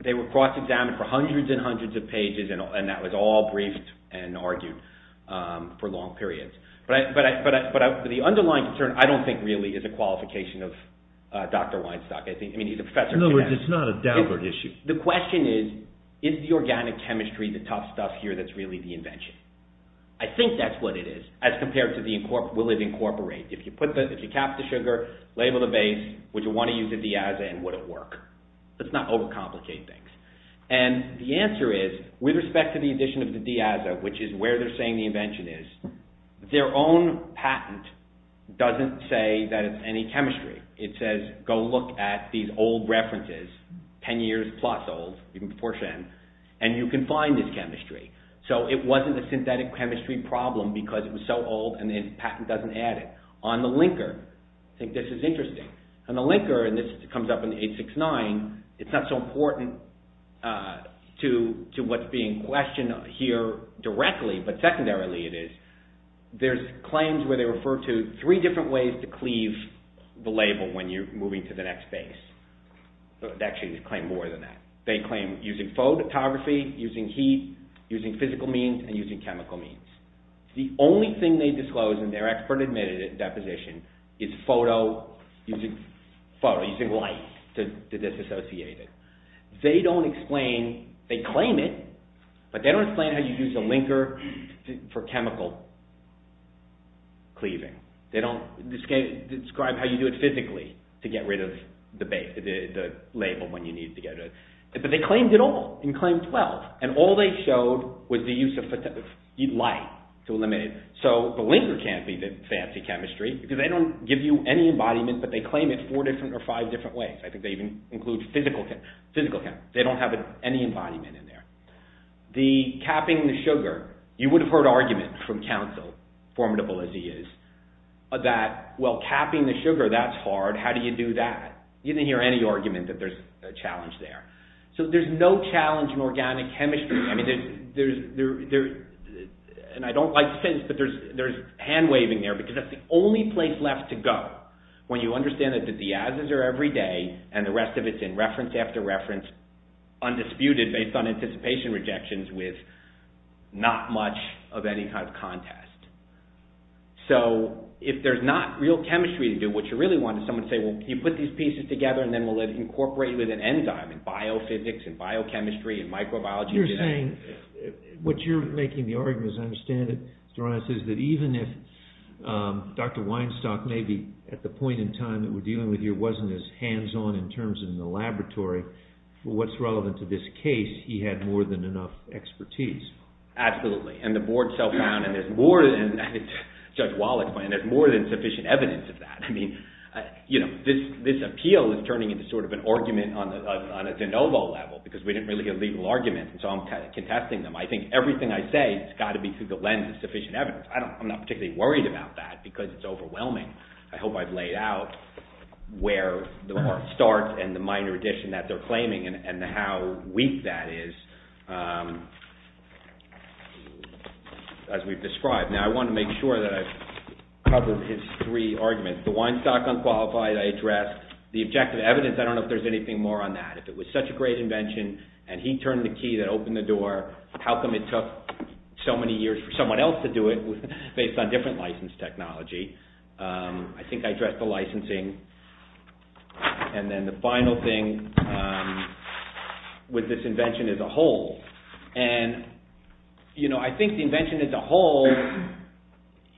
They were cross-examined for hundreds and hundreds of pages and that was all briefed and argued for long periods. But the underlying concern, I don't think really, is a qualification of Dr. Weinstock. I mean, he's a professor. No, it's not a downward issue. The question is, is the organic chemistry the tough stuff here that's really the invention? I think that's what it is, as compared to will it incorporate? If you cap the sugar, label the base, would you want to use it as is and would it work? Let's not over-complicate things. And the answer is, with respect to the addition of the diazo, which is where they're saying the invention is, their own patent doesn't say that it's any chemistry. It says, go look at these old references, 10 years plus old, you can proportion them, and you can find this chemistry. So it wasn't a synthetic chemistry problem because and the patent doesn't add it. On the linker, I think this is interesting. On the linker, and this comes up in 869, it's not so important to what's being questioned here directly, but secondarily it is, there's claims where they refer to three different ways to cleave the label when you're moving to the next base. Actually, they claim more than that. They claim using photography, using heat, using physical means, and using chemical means. they disclose and their expert admitted it in that position is photo, using photo, using light to disassociate it. They don't say, go look at and they don't explain, they claim it, but they don't explain how you use the linker for chemical cleaving. They don't describe how you do it physically to get rid of the label when you need to get rid of it. But they claimed it all in claim 12 and all they showed was the use of light to eliminate it. So the linker can't be the fancy chemistry because they don't give you any embodiment but they claim it four different or five different ways. I think they even include physical chem, physical chem. They don't have any embodiment in there. The capping the sugar, you would have heard arguments from counsel, formidable as he is, that, well, capping the sugar, that's hard, how do you do that? You didn't hear any argument that there's a challenge there. So there's no challenge in organic chemistry. I mean, there's, and I don't like to say this, but there's hand-waving there because that's the only place you're left to go when you understand that the diases are every day and the rest of it is in reference after reference undisputed based on anticipation rejections with not much of any kind of contest. So, if there's not real chemistry to do, what you really want is someone to say, well, you put these pieces together and then we'll incorporate it with an enzyme and biophysics and biochemistry and microbiology. You're saying, what you're making the argument, as I understand it, Doronis, is that even if Dr. Weinstock maybe at the point in time that we're dealing with here wasn't as hands-on in terms of the laboratory, what's relevant to this case, he had more than enough expertise. Absolutely. And the board self-founded as more than, Judge Wall explained, as more than sufficient evidence of that. I mean, this appeal is turning into sort of an argument on a de novo level because we didn't really get legal arguments and so I'm contesting them. I think everything I say has got to be through the lens of sufficient evidence. I'm not particularly worried about that because it's overwhelming. I hope I've laid out where the heart starts and the minor addition that they're claiming and how weak that is as we've described. Now, I want to make sure that I've covered his three arguments. The Weinstock unqualified, I addressed. The objective evidence, I don't know if there's anything more on that. If it was such a great invention and he turned the key that opened the door, how come it took so many years for someone else to do it based on different license technology? I think I addressed the licensing. And then the final thing with this invention as a whole. And, you know, I think the invention as a whole,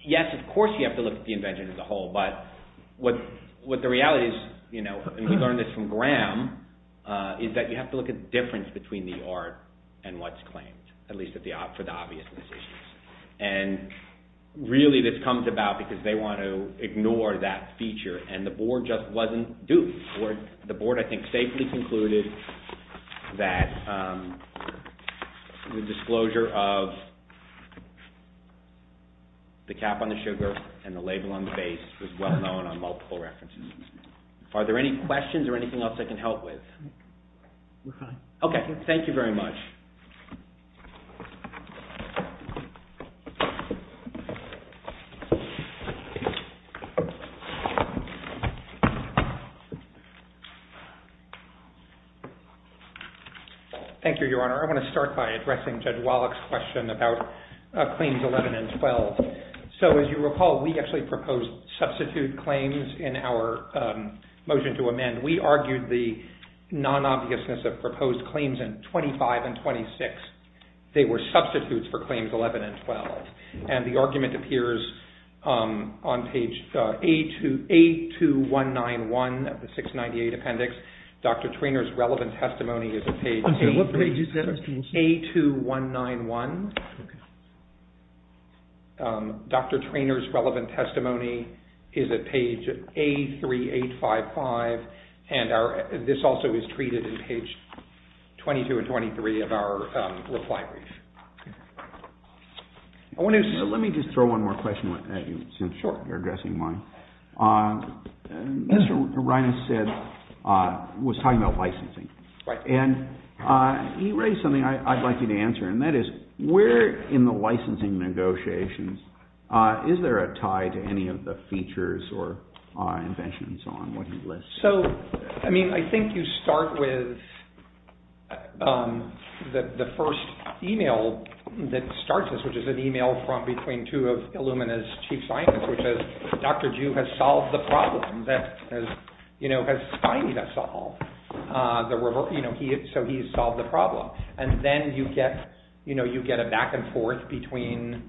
yes, of course, you have to look at the invention as a whole, but what the reality is, you know, and we learned this from Graham, is that you have to look at the difference between the art and what's claimed, at least for the obvious decisions. And, really, this comes about because they want to ignore that feature and the board just wasn't due. The board, I think, safely concluded that the disclosure of the cap on the sugar and the label on the base was well known on multiple references. Are there any questions or anything else that I can help with? We're fine. Okay, thank you very much. Thank you, Your Honor. I want to start by addressing Judge Wallach's question about claims 11 and 12. So, as you recall, we actually proposed substitute claims in our motion to amend. And we argued the non-obviousness of proposed claims in 25 and 26. They were substitutes for claims 11 and 12. And the argument appears on page A2191 of the 698 appendix. Dr. Treanor's relevant testimony is at page A2191. Dr. Treanor's relevant testimony is at page A3855. And this also is treated in page 22 and 23 of our reply brief. Let me just throw one more question since you're addressing mine. Mr. Reines said he was talking about licensing. And he raised something I'd like you to answer. And that is, where in the licensing negotiations is there a tie to any of the features or inventions and so on, and what do you list? So, I mean, I think you start with the first email that starts us, which is an email from between two of Illumina's chief scientists, which is, Dr. Jew has solved the problem that, you know, has Spiney to solve. You know, so he's solved the problem. And then you get, you know, you get a back and forth between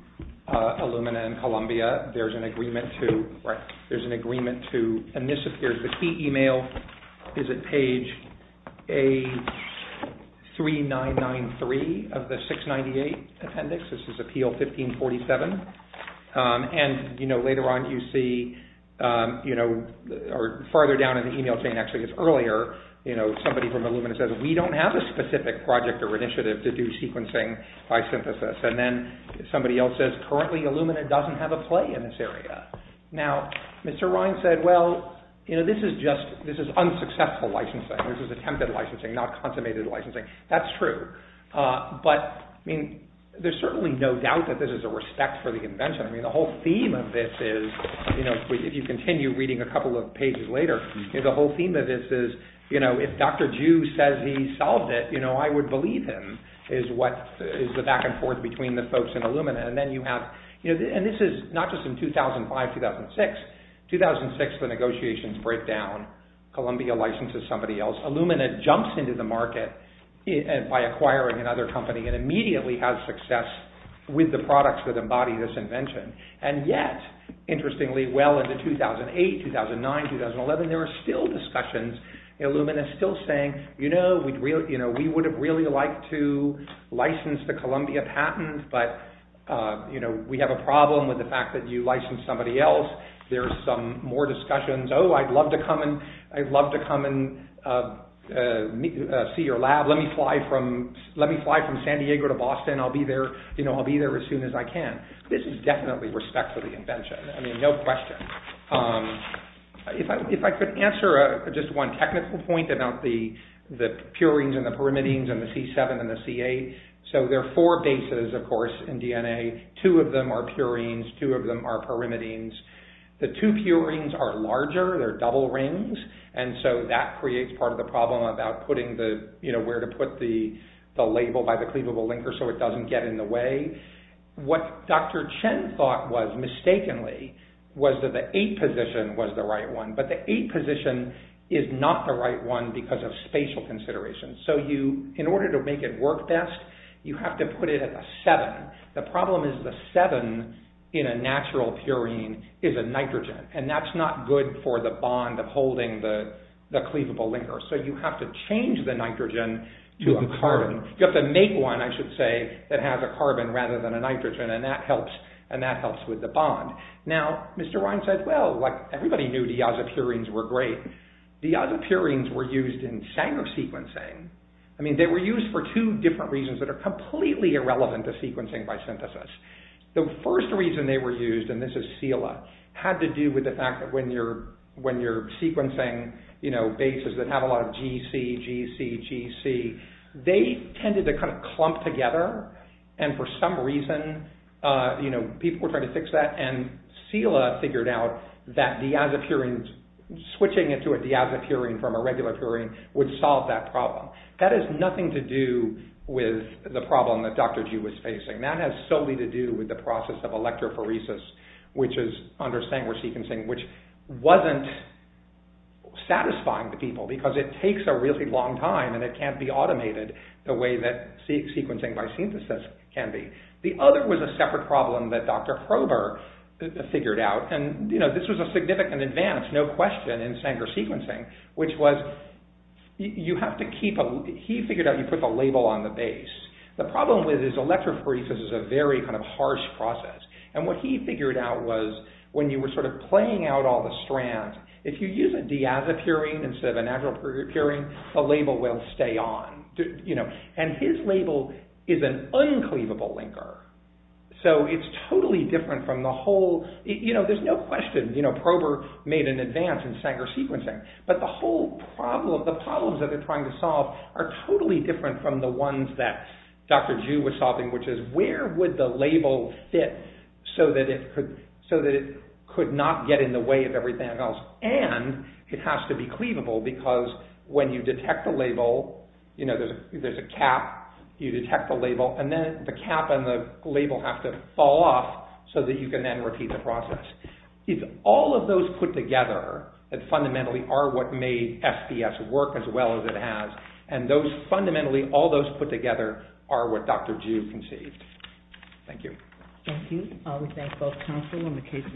Illumina and Columbia. There's an agreement to, right, there's an agreement to, and this appears, the key email is at page A3993 of the 698 appendix. This is appeal 1547. And, you know, later on you see, you know, or farther down in the email chain, actually it's earlier, you know, somebody from Illumina says, we don't have a specific project or initiative to do sequencing by synthesis. And then somebody else says, currently Illumina doesn't have a play in this area. Now, Mr. Ryan said, well, you know, this is just, this is unsuccessful licensing. This is attempted licensing, not consummated licensing. That's true. But, I mean, there's certainly no doubt that this is a respect for the convention. I mean, the whole theme of this is, you know, if you continue reading a couple of pages later, you know, the whole theme of this is, you know, if Dr. Jew says he solved it, you know, I would believe him is what, is the back and forth between the folks in Illumina. And then you have, you know, and this is not just in 2005, 2006, 2006 the negotiations break down. Columbia licenses somebody else. Illumina jumps into the market by acquiring another company and immediately has success with the products that embody this invention. And yet, interestingly, well into 2008, 2009, 2011, there are still discussions in Illumina still saying, you know, we'd really, you know, we would have really liked to license the Columbia patent, but, you know, we have a problem with the fact that you license somebody else. There's some more discussions. Oh, I'd love to come and, I'd love to come and see your lab. Let me fly from, let me fly from San Diego to Boston. I'll be there, you know, I'll be there as soon as I can. This is definitely respect for the invention. I mean, no question. If I, if I could answer just one technical point about the, the purines and the pyrimidines and the C7 and the C8, so there are four bases, of course, in DNA. Two of them are purines, two of them are pyrimidines. The two purines are larger, they're double rings, and so that creates part of the problem about putting the, you know, where to put the, the label by the cleavable linker so it doesn't get in the way. What Dr. Chen thought was, mistakenly, was that the eight position was the right one, but the eight position is not the right one because of spatial considerations. So you, in order to make it work best, you have to put it at the seven. The problem is the seven in a natural purine is a nitrogen and that's not good for the bond of holding the, the cleavable linker. So you have to change the nitrogen to a carbon. You have to make one, I should say, that has a carbon rather than a nitrogen and that helps, and that helps with the bond. Now, Mr. Ryan said, well, like everybody knew diazepurines were great. Diazepurines were used in Sanger sequencing. I mean, they were used for two different reasons that are completely irrelevant to sequencing by synthesis. The first reason they were used, and this is Sela, had to do with the fact that when you're, when you're sequencing, you know, bases that have a lot of GC, GC, GC, they tended to kind of clump together and for some reason, you know, people were trying to fix that and Sela figured out that diazepurines, switching it to a diazepurine from a regular purine would solve that problem. That has nothing to do with the problem that Dr. G was facing. That has solely to do with the process of electrophoresis, which is under Sanger sequencing, which wasn't satisfying to people because it takes a really long time and it can't be automated the way that sequencing by synthesis can be. The other was a separate problem that Dr. Kroeber figured out and, you know, this was a significant advance, no question, in Sanger sequencing, which was you have to keep a, he figured out you put the label on the base. The problem with it is electrophoresis is a very kind of harsh process and what he figured out was when you were sort of playing out all the strands, if you use a diazepurine instead of a natural purine, the label will stay on, you know, and his label is an uncleavable linker, so it's totally different from the whole, you know, there's no question, you know, Kroeber made an advance in Sanger sequencing, but the whole problem, the problems that they're trying to solve are totally different from the ones that Dr. Ju was solving, which is where would the label fit so that it could, so that it could not get in the way of everything else and it has to be cleavable because when you detect the label, you know, there's a cap, you detect the label and then the cap and the label have to fall off so that you can then repeat the process. It's all of those put together that fundamentally are what made SPS work as well as it has and those, fundamentally, all those put together are what Dr. Ju conceived. Thank you. Thank you. We thank both counsel on the case.